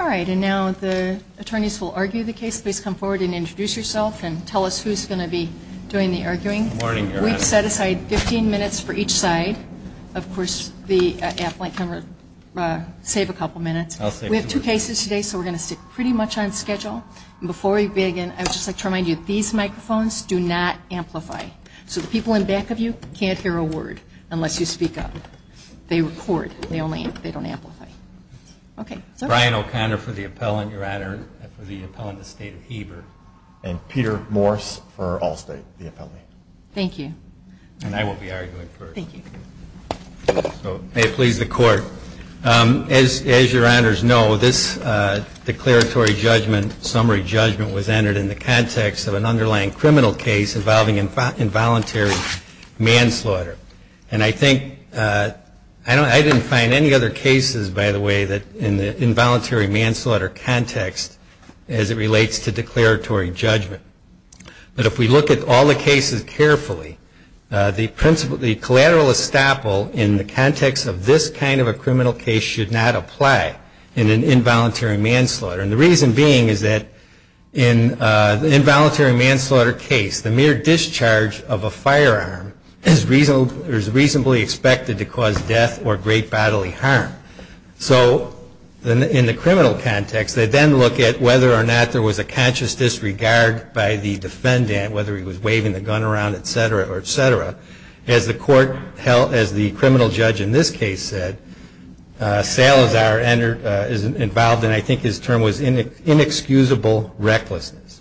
All right. And now the attorneys will argue the case. Please come forward and introduce yourself and tell us who's going to be doing the arguing. Good morning, Your Honor. We've set aside 15 minutes for each side. Of course, the affluent can save a couple minutes. I'll save a couple minutes. We have two cases today, so we're going to stick pretty much on schedule. And before we begin, I would just like to remind you, these microphones do not amplify. So the people in back of you can't hear a word unless you speak up. They record. They don't amplify. Okay. Brian O'Connor for the appellant, Your Honor, for the appellant, the State of Heber. And Peter Morse for Allstate, the appellant. Thank you. And I will be arguing first. Thank you. So may it please the Court. As Your Honors know, this declaratory judgment, summary judgment, was entered in the context of an underlying criminal case involving involuntary manslaughter. And I think, I didn't find any other cases, by the way, that in the involuntary manslaughter context as it relates to declaratory judgment. But if we look at all the cases carefully, the collateral estoppel in the context of this kind of a criminal case should not apply in an involuntary manslaughter. And the reason is reasonably expected to cause death or great bodily harm. So in the criminal context, they then look at whether or not there was a conscious disregard by the defendant, whether he was waving the gun around, et cetera, et cetera. As the court held, as the criminal judge in this case said, Salazar is involved in, I think his term was inexcusable recklessness.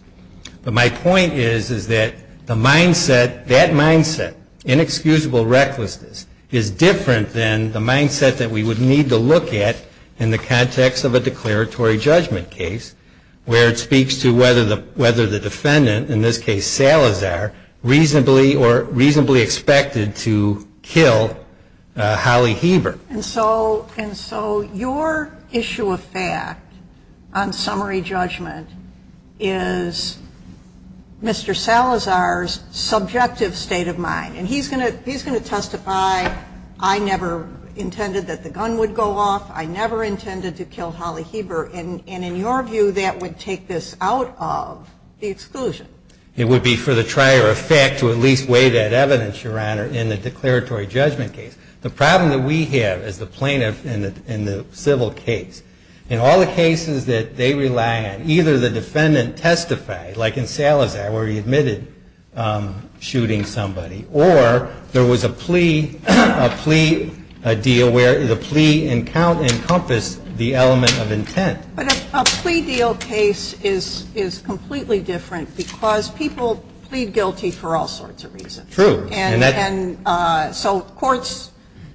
But my point is, is that the mindset, that mindset, inexcusable recklessness, is different than the mindset that we would need to look at in the context of a declaratory judgment case where it speaks to whether the defendant, in this case Salazar, reasonably or reasonably expected to kill Holly Heber. And so your issue of fact on summary judgment is Mr. Salazar's subjective state of mind. And he's going to testify, I never intended that the gun would go off. I never intended to kill Holly Heber. And in your view, that would take this out of the exclusion. It would be for the trier of fact to at least weigh that evidence, Your Honor, in the declaratory judgment case. The problem that we have as the plaintiff in the civil case, in all the cases that they rely on, either the defendant testified, like in Salazar where he admitted shooting somebody, or there was a plea, a plea deal where the plea encompassed the element of intent. But a plea deal case is completely different because people plead guilty for all sorts of reasons. True. And so courts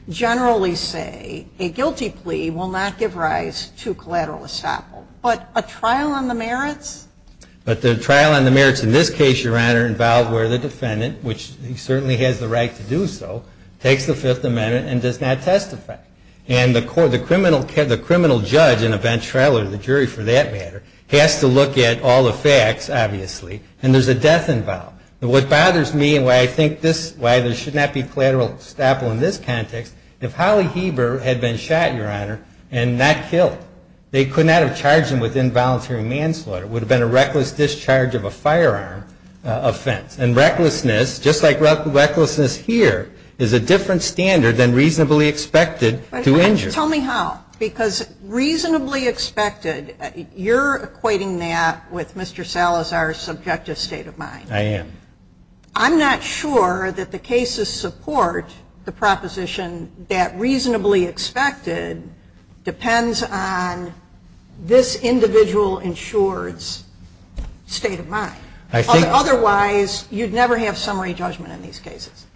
generally say a guilty plea will not give rise to collateral estoppel. But a trial on the merits? But the trial on the merits in this case, Your Honor, involved where the defendant, which he certainly has the right to do so, takes the Fifth Amendment and does not testify. And the criminal judge in a bench trial, or the jury for that matter, has to look at all the facts, obviously, and there's a death involved. What bothers me and why I think this, why there should not be collateral estoppel in this context, if Holly Heber had been shot, Your Honor, and not killed, they could not have charged him with involuntary manslaughter. It would have been a reckless discharge of a firearm offense. And recklessness, just like recklessness here, is a different standard than reasonably expected to injure. Tell me how. Because reasonably expected, you're equating that with Mr. Salazar's subjective state of mind. I am. I'm not sure that the cases support the proposition that reasonably expected depends on this individual insured's state of mind. I think so. Otherwise, you'd never have summary judgment in these cases.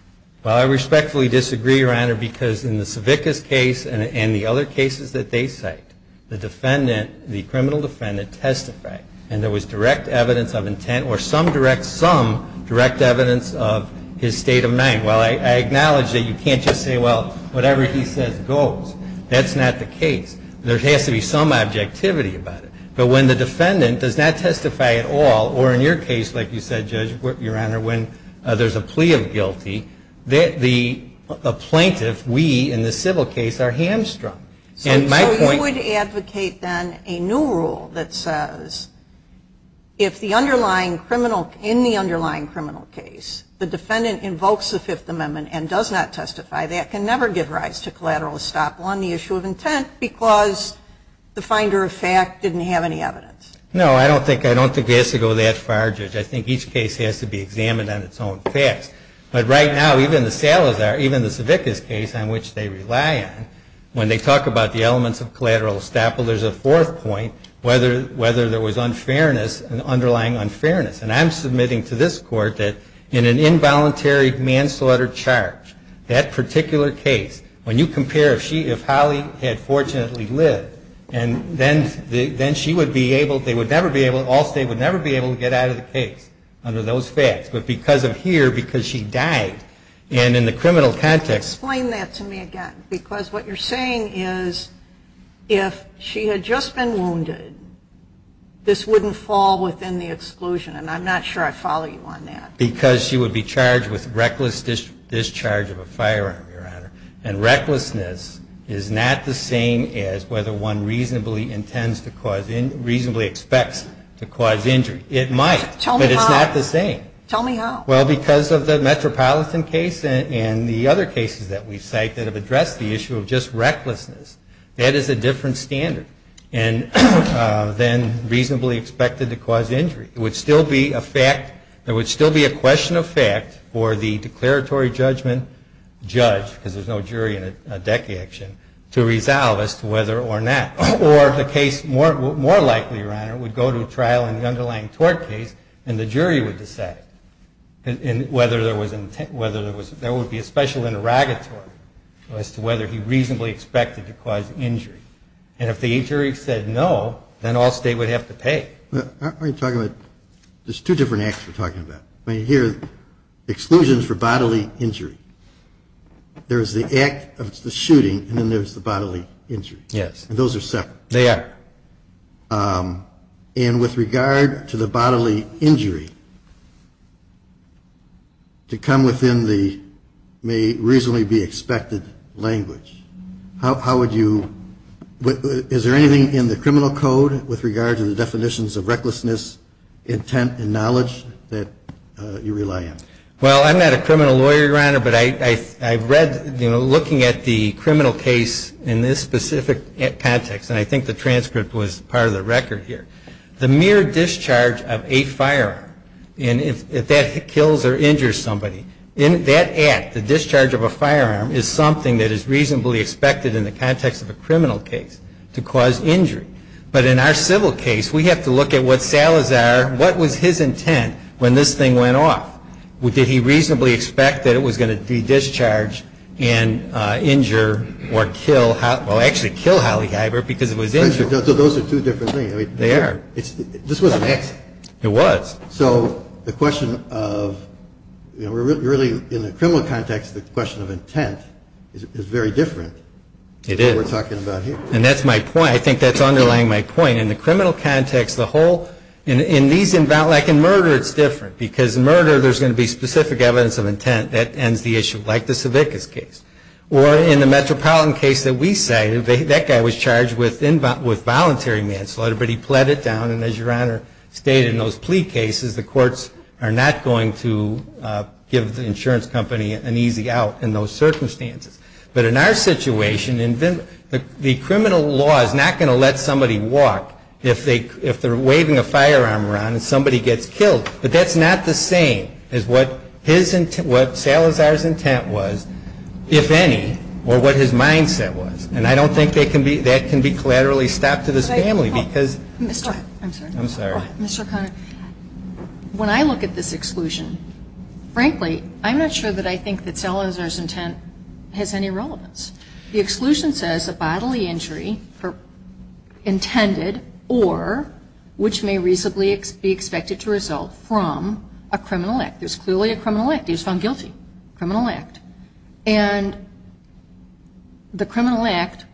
Well, I respectfully disagree, Your Honor, because in the Savickas case and the other cases that they cite, the criminal defendant testified. And there was direct evidence of intent or some direct evidence of his state of mind. Well, I acknowledge that you can't just say, well, whatever he says goes. That's not the case. There has to be some objectivity about it. But when the defendant does not testify at all, or in your case, like you said, Judge, Your Honor, when there's a plea of guilty, the plaintiff, we in the civil case, are hamstrung. So you would advocate then a new rule that says if the underlying criminal in the underlying criminal case, the defendant invokes the Fifth Amendment and does not testify, that can never give rise to collateral estoppel on the issue of intent because the finder of fact didn't have any evidence. No, I don't think it has to go that far, Judge. I think each case has to be examined on its own facts. But right now, even the Salazar, even the Savickas case on which they rely on, when they talk about the elements of collateral estoppel, there's a fourth point, whether there was unfairness, an underlying unfairness. And I'm submitting to this Court that in an involuntary manslaughter charge, that particular case, when you compare if Holly had fortunately lived, and then she would be able, they would never be able, Allstate would never be able to get out of the case under those facts. But because of here, because she died, and in the criminal context. Explain that to me again. Because what you're saying is, if she had just been wounded, this wouldn't fall within the exclusion. And I'm not sure I follow you on that. Because she would be charged with reckless discharge of a firearm, Your Honor. And recklessness is not the same as whether one reasonably intends to cause, reasonably expects to cause injury. It might, but it's not the same. Tell me how. Well, because of the Metropolitan case and the other cases that we've cited that have addressed the issue of just recklessness. That is a different standard than reasonably expected to cause injury. It would still be a fact, there would still be a question of fact for the declaratory judgment judge, because there's no jury in a deck action, to resolve as to whether or not. Or the case, more likely, Your Honor, would go to trial in the underlying tort case, and the jury would decide whether there would be a special interrogatory as to whether he reasonably expected to cause injury. And if the jury said no, then all state would have to pay. But aren't we talking about, there's two different acts we're talking about. I mean, here, exclusions for bodily injury. There's the act of the shooting, and then there's the bodily injury. Yes. And those are separate. They are. And with regard to the bodily injury, to come within the, may reasonably be expected language. How would you, is there anything in the criminal code with regard to the definitions of recklessness, intent, and knowledge that you rely on? Well, I'm not a criminal lawyer, Your Honor, but I've read, you know, looking at the criminal case in this specific context, and I think the transcript was part of the record here. The mere discharge of a firearm, and if that kills or injures somebody. In that act, the discharge of a firearm is something that is reasonably expected in the context of a criminal case to cause injury. But in our civil case, we have to look at what Salazar, what was his intent when this thing went off? Did he reasonably expect that it was going to de-discharge and injure or kill, well, actually kill Holly Heibert because it was injured. So those are two different things. They are. This was an accident. It was. So the question of, you know, really in the criminal context, the question of intent is very different. It is. Than what we're talking about here. And that's my point. I think that's underlying my point. In the criminal context, the whole, in these, like in murder, it's different. Because in murder, there's going to be specific evidence of intent that ends the issue, like the Savickas case. Or in the Metropolitan case that we cited, that guy was charged with involuntary manslaughter, but he pled it down. And as Your Honor stated, in those plea cases, the courts are not going to give the insurance company an easy out in those circumstances. But in our situation, the criminal law is not going to let somebody walk if they're waving a firearm around and somebody gets killed. But that's not the same as what Salazar's intent was. If any, or what his mindset was. And I don't think that can be collaterally stopped to this family, because. Mr. I'm sorry. I'm sorry. Mr. O'Connor, when I look at this exclusion, frankly, I'm not sure that I think that Salazar's intent has any relevance. The exclusion says a bodily injury intended or which may reasonably be expected to result from a criminal act. There's clearly a criminal act. He was found guilty. Criminal act. And the criminal act,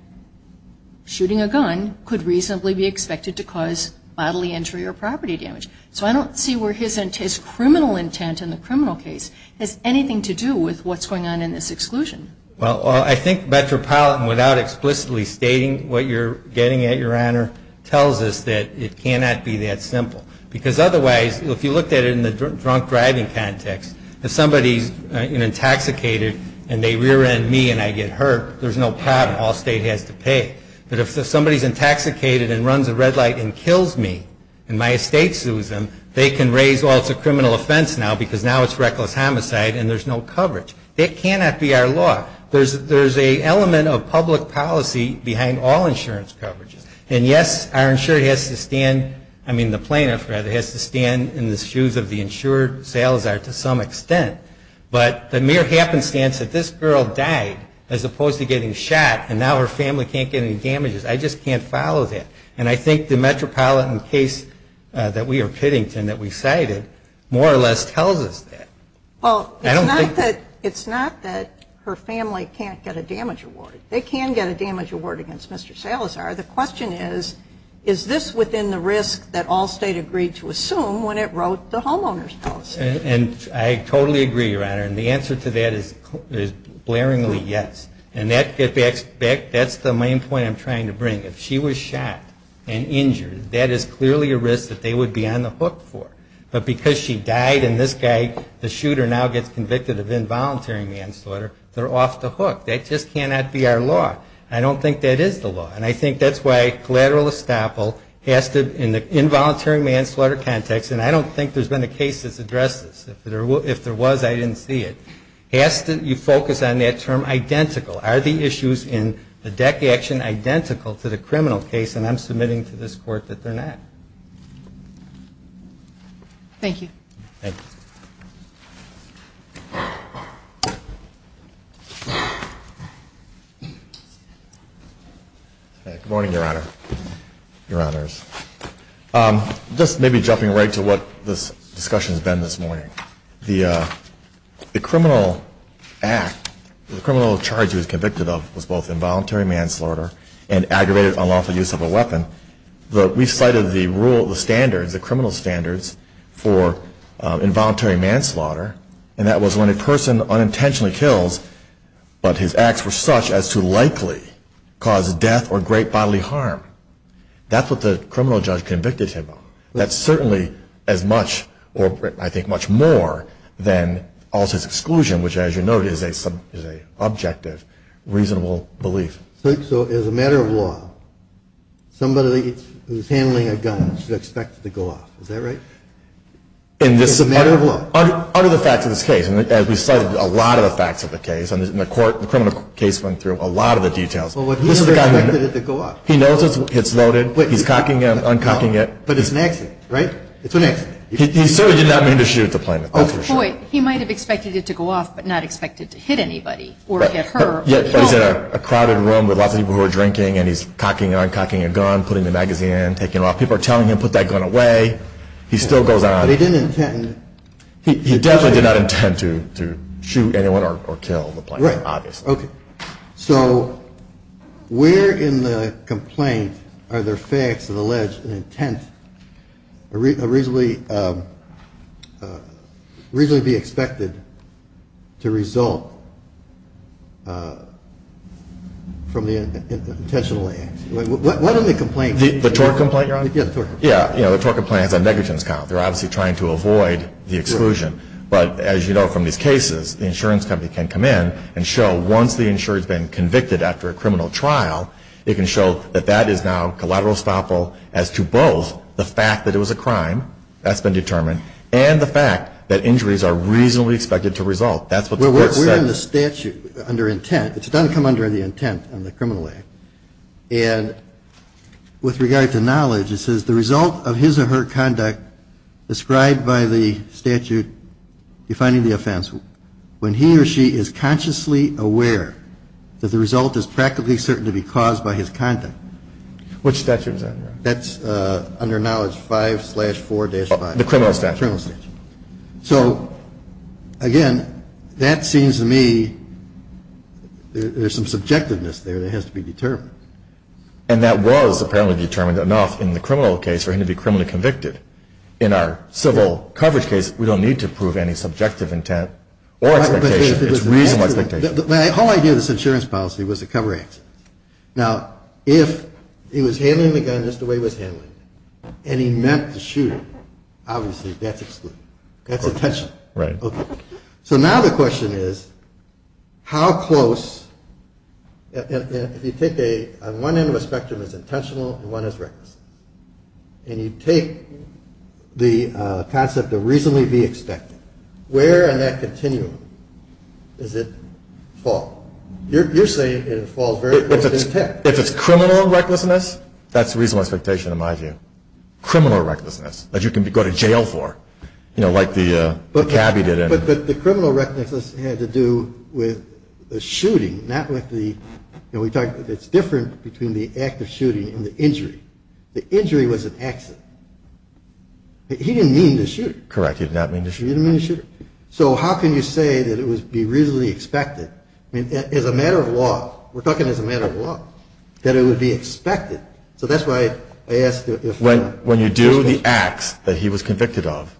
shooting a gun, could reasonably be expected to cause bodily injury or property damage. So I don't see where his criminal intent in the criminal case has anything to do with what's going on in this exclusion. Well, I think Metropolitan, without explicitly stating what you're getting at, Your Honor, tells us that it cannot be that simple. Because otherwise, if you looked at it in the drunk driving context, if somebody's intoxicated and they rear end me and I get hurt, there's no problem. All state has to pay. But if somebody's intoxicated and runs a red light and kills me, and my estate sues them, they can raise, well, it's a criminal offense now, because now it's reckless homicide, and there's no coverage. That cannot be our law. There's a element of public policy behind all insurance coverages. And yes, our insurer has to stand, I mean, the plaintiff, rather, has to stand in the shoes of the insurer, Salazar, to some extent. But the mere happenstance that this girl died, as opposed to getting shot, and now her family can't get any damages, I just can't follow that. And I think the Metropolitan case that we are pitting to, and that we cited, more or less tells us that. Well, it's not that her family can't get a damage award. They can get a damage award against Mr. Salazar. The question is, is this within the risk that all state agreed to assume when it wrote the homeowner's policy? And I totally agree, Your Honor. And the answer to that is glaringly yes. And that's the main point I'm trying to bring. If she was shot and injured, that is clearly a risk that they would be on the hook for. But because she died and this guy, the shooter, now gets convicted of involuntary manslaughter, they're off the hook. That just cannot be our law. I don't think that is the law. And I think that's why collateral estoppel has to, in the involuntary manslaughter context, and I don't think there's been a case that's addressed this. If there was, I didn't see it. Has to, you focus on that term identical. Are the issues in the DEC action identical to the criminal case? And I'm submitting to this court that they're not. Thank you. Good morning, Your Honor, Your Honors. Just maybe jumping right to what this discussion has been this morning. The criminal act, the criminal charge he was convicted of, was both involuntary manslaughter and aggravated unlawful use of a weapon. We cited the rule, the standards, the criminal standards for involuntary manslaughter, and that was when a person unintentionally kills, but his acts were such as to likely cause death or great bodily harm. That's what the criminal judge convicted him of. That's certainly as much, or I think much more, than all his exclusion, which as you note is a subjective, reasonable belief. So as a matter of law, somebody who's handling a gun should expect it to go off. Is that right? In this- As a matter of law. Under the facts of this case, and as we cited a lot of the facts of the case, the criminal case went through a lot of the details. Well, but he expected it to go off. He knows it's loaded, he's cocking it, uncocking it. But it's an accident, right? It's an accident. He certainly did not mean to shoot at the plaintiff, that's for sure. He might have expected it to go off, but not expected to hit anybody, or hit her. But he's in a crowded room with lots of people who are drinking, and he's cocking and uncocking a gun, putting the magazine in, taking it off. People are telling him, put that gun away. He still goes on. But he didn't intend to. To shoot anyone or kill the plaintiff, obviously. Right, okay. So, where in the complaint are there facts that allege an intent a reasonably, reasonably be expected to result from the intentionally, what are the complaints? The TOR complaint, Your Honor? Yeah, the TOR complaint. Yeah, the TOR complaint has a negligence count. They're obviously trying to avoid the exclusion. But as you know from these cases, the insurance company can come in and show once the insurer's been convicted after a criminal trial, they can show that that is now collateral stoppable as to both the fact that it was a crime, that's been determined, and the fact that injuries are reasonably expected to result. That's what the court said. We're in the statute under intent. It doesn't come under the intent in the Criminal Act. And with regard to knowledge, it says the result of his or her conduct described by the statute defining the offense, when he or she is consciously aware that the result is practically certain to be caused by his conduct. Which statute is that, Your Honor? That's under knowledge 5 slash 4 dash 5. The criminal statute. Criminal statute. So, again, that seems to me there's some subjectiveness there that has to be determined. And that was apparently determined enough in the criminal case for him to be criminally convicted. In our civil coverage case, we don't need to prove any subjective intent or expectation. It's reasonable expectation. My whole idea of this insurance policy was to cover accidents. Now, if he was handling the gun just the way he was handling it, and he meant to shoot it, obviously that's excluded. That's intentional. Right. So now the question is, how close, if you take one end of a spectrum is intentional and one is reckless, and you take the concept of reasonably be expected, where in that continuum does it fall? You're saying it falls very close to intent. If it's criminal recklessness, that's reasonable expectation in my view. Criminal recklessness, that you can go to jail for, like the cabbie did. But the criminal recklessness had to do with the shooting, not with the, and we talked, it's different between the act of shooting and the injury. The injury was an accident. He didn't mean to shoot. Correct, he did not mean to shoot. He didn't mean to shoot. So how can you say that it would be reasonably expected? I mean, as a matter of law, we're talking as a matter of law, that it would be expected. So that's why I asked if- When you do the acts that he was convicted of,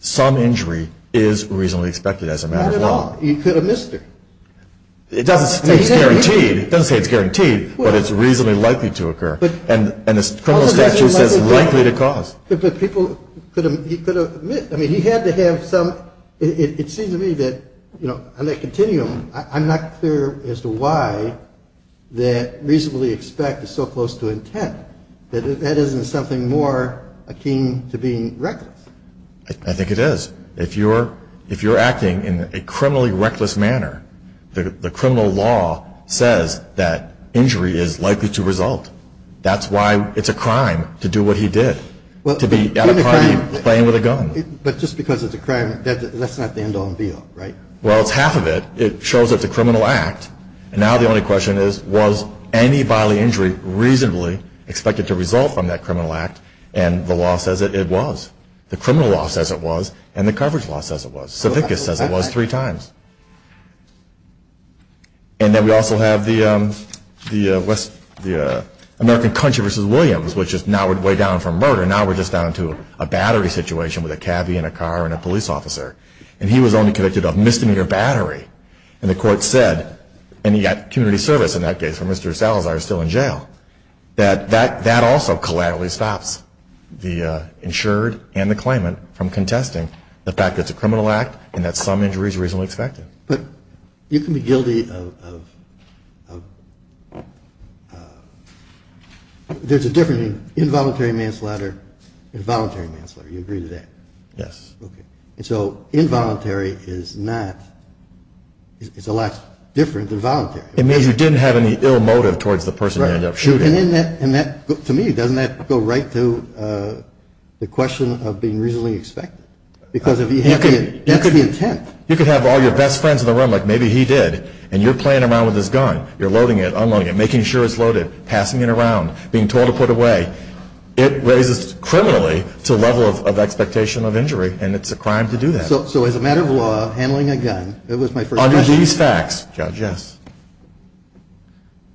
some injury is reasonably expected as a matter of law. Not at all. He could have missed her. It doesn't say it's guaranteed, but it's reasonably likely to occur. And the criminal statute says likely to cause. But people could have, he could have, I mean, he had to have some, it seems to me that, you know, on that continuum, I'm not clear as to why that reasonably expect is so close to intent. That isn't something more akin to being reckless. I think it is. If you're acting in a criminally reckless manner, the criminal law says that injury is likely to result. That's why it's a crime to do what he did. To be at a party playing with a gun. But just because it's a crime, that's not the end all and be all, right? Well, it's half of it. It shows that it's a criminal act. And now the only question is, was any bodily injury reasonably expected to result from that criminal act? And the law says that it was. The criminal law says it was, and the coverage law says it was. Savickas says it was three times. And then we also have the American Country versus Williams, which is now we're way down from murder. Now we're just down to a battery situation with a cabbie and a car and a police officer. And he was only convicted of misdemeanor battery. And the court said, and he got community service in that case where Mr. Salazar is still in jail. That also collaterally stops the insured and the claimant from contesting the fact that it's a criminal act and that some injury is reasonably expected. But you can be guilty of, there's a difference between involuntary manslaughter and voluntary manslaughter. You agree to that? Yes. And so involuntary is not, it's a lot different than voluntary. It means you didn't have any ill motive towards the person you ended up shooting. And that, to me, doesn't that go right to the question of being reasonably expected? Because that's the intent. You could have all your best friends in the room, like maybe he did, and you're playing around with his gun. You're loading it, unloading it, making sure it's loaded, passing it around, being told to put away. It raises, criminally, to a level of expectation of injury. And it's a crime to do that. So as a matter of law, handling a gun, that was my first question. These facts, Judge, yes.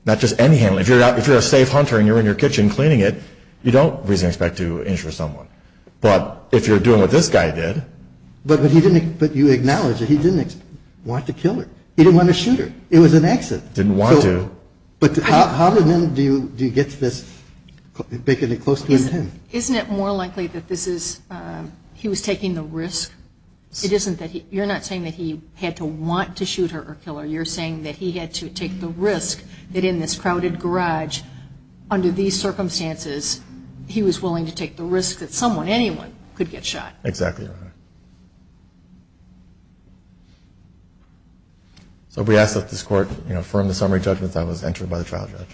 Not just any handling. If you're a safe hunter and you're in your kitchen cleaning it, you don't reasonably expect to injure someone. But if you're doing what this guy did. But he didn't, but you acknowledge that he didn't want to kill her. He didn't want to shoot her. It was an exit. Didn't want to. But how then do you get to this, making it close to intent? Isn't it more likely that this is, he was taking the risk? It isn't that he, you're not saying that he had to want to shoot her or kill her. You're saying that he had to take the risk that in this crowded garage, under these circumstances, he was willing to take the risk that someone, anyone, could get shot. Exactly. So we ask that this court affirm the summary judgment that was entered by the trial judge.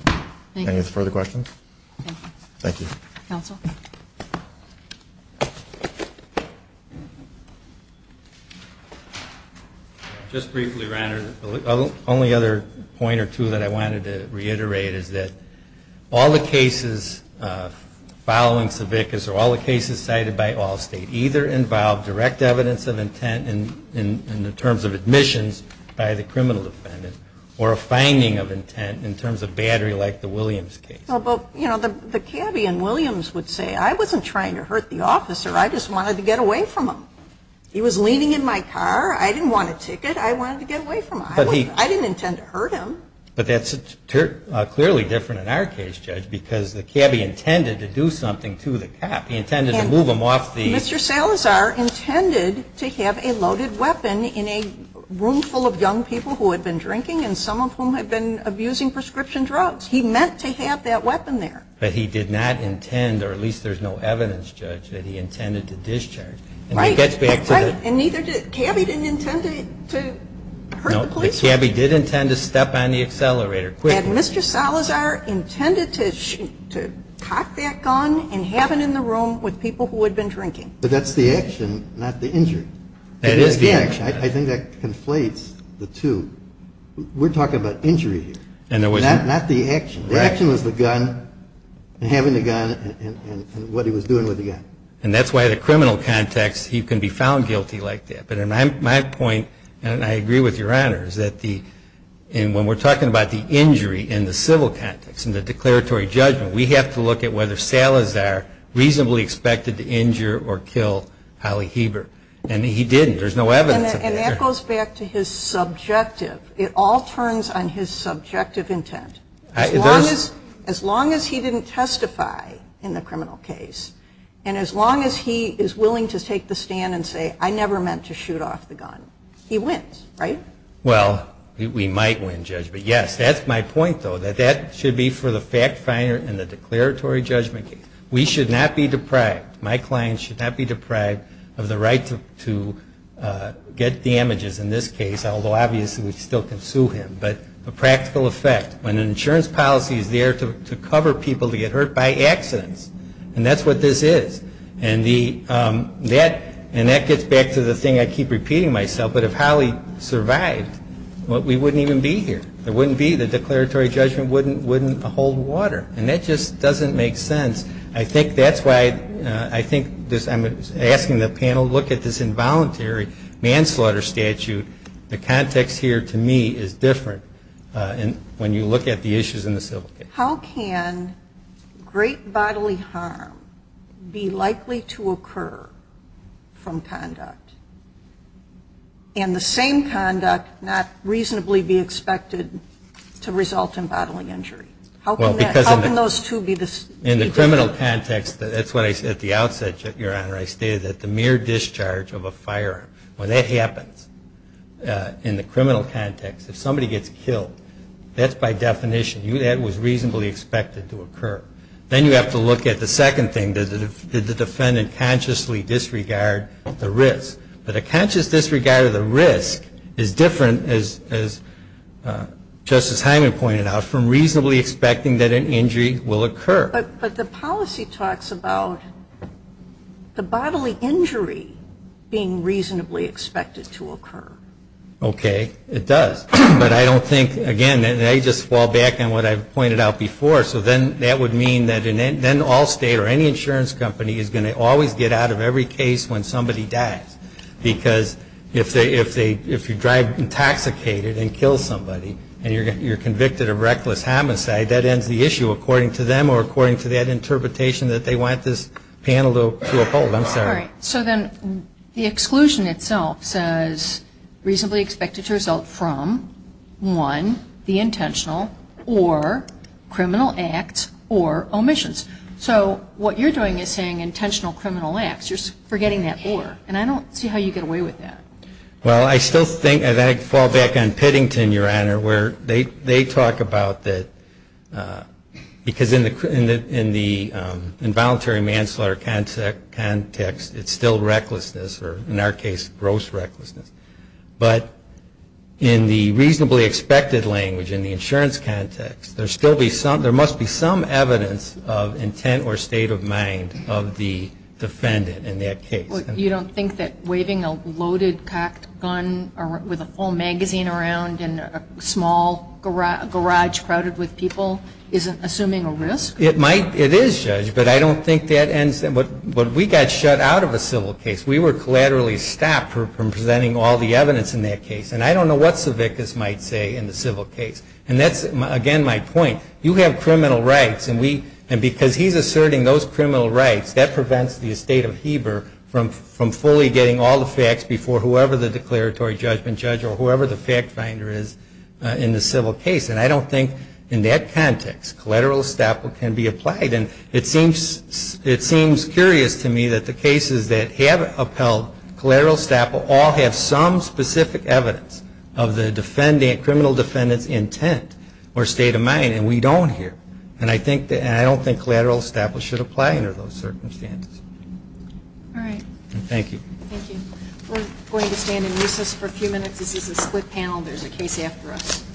Thank you. Any further questions? Thank you. Counsel. Just briefly, Ron, the only other point or two that I wanted to reiterate is that all the cases following Savickas or all the cases cited by Allstate either involve direct evidence of intent in the terms of admissions by the criminal defendant, or a finding of intent in terms of battery like the Williams case. Well, but, you know, the caveat in Williams would say, I wasn't trying to hurt the officer. I just wanted to get away from him. He was leaning in my car. I didn't want a ticket. I wanted to get away from him. I didn't intend to hurt him. But that's clearly different in our case, Judge, because the cabbie intended to do something to the cop. He intended to move him off the- Mr. Salazar intended to have a loaded weapon in a room full of young people who had been drinking and some of whom had been abusing prescription drugs. He meant to have that weapon there. But he did not intend, or at least there's no evidence, Judge, that he intended to discharge. Right. And he gets back to the- And neither did, cabbie didn't intend to hurt the police. No, the cabbie did intend to step on the accelerator. And Mr. Salazar intended to cock that gun and have it in the room with people who had been drinking. But that's the action, not the injury. That is the action. I think that conflates the two. We're talking about injury here, not the action. The action was the gun and having the gun and what he was doing with the gun. And that's why the criminal context, he can be found guilty like that. But my point, and I agree with your honor, is that when we're talking about the injury in the civil context, in the declaratory judgment, we have to look at whether Salazar reasonably expected to injure or kill Holly Heber. And he didn't. There's no evidence of that. And that goes back to his subjective. It all turns on his subjective intent. As long as he didn't testify in the criminal case. And as long as he is willing to take the stand and say, I never meant to shoot off the gun, he wins, right? Well, we might win, Judge. But yes, that's my point, though, that that should be for the fact finder in the declaratory judgment case. We should not be deprived, my clients should not be deprived of the right to get damages in this case. Although, obviously, we still can sue him. But the practical effect, when an insurance policy is there to cover people to get hurt by accidents. And that's what this is. And that gets back to the thing I keep repeating myself. But if Holly survived, we wouldn't even be here. There wouldn't be, the declaratory judgment wouldn't hold water. And that just doesn't make sense. I think that's why I'm asking the panel, look at this involuntary manslaughter statute. The context here, to me, is different when you look at the issues in the civil case. How can great bodily harm be likely to occur from conduct? And the same conduct not reasonably be expected to result in bodily injury? How can those two be the same? In the criminal context, that's what I said at the outset, Your Honor, I stated that the mere discharge of a firearm, when that happens in the criminal context, if somebody gets killed, that's by definition, that was reasonably expected to occur. Then you have to look at the second thing, did the defendant consciously disregard the risk? But a conscious disregard of the risk is different, as Justice Hyman pointed out, from reasonably expecting that an injury will occur. But the policy talks about the bodily injury being reasonably expected to occur. Okay, it does. But I don't think, again, and I just fall back on what I pointed out before, so then that would mean that then Allstate or any insurance company is going to always get out of every case when somebody dies. Because if you drive intoxicated and kill somebody, and you're convicted of reckless homicide, that ends the issue according to them or according to that interpretation All right, so then the exclusion itself says reasonably expected to result from, one, the intentional or criminal acts or omissions. So what you're doing is saying intentional criminal acts. You're forgetting that or, and I don't see how you get away with that. Well, I still think, and I fall back on Pittington, Your Honor, where they talk about that, because in the involuntary manslaughter context, it's still recklessness, or in our case, gross recklessness. But in the reasonably expected language, in the insurance context, there must be some evidence of intent or state of mind of the defendant in that case. You don't think that waving a loaded cocked gun with a full magazine around in a small garage crowded with people is assuming a risk? It might, it is, Judge, but I don't think that ends, what we got shut out of a civil case, we were collaterally stopped from presenting all the evidence in that case. And I don't know what Savickas might say in the civil case. And that's, again, my point. You have criminal rights, and because he's asserting those criminal rights, that prevents the estate of Heber from fully getting all the facts before whoever the declaratory judgment judge or whoever the fact finder is in the civil case. And I don't think, in that context, collateral estoppel can be applied. And it seems curious to me that the cases that have upheld collateral estoppel all have some specific evidence of the criminal defendant's intent or state of mind, and we don't here. And I don't think collateral estoppel should apply under those circumstances. All right. Thank you. Thank you. We're going to stand in recess for a few minutes. This is a split panel. There's a case after us.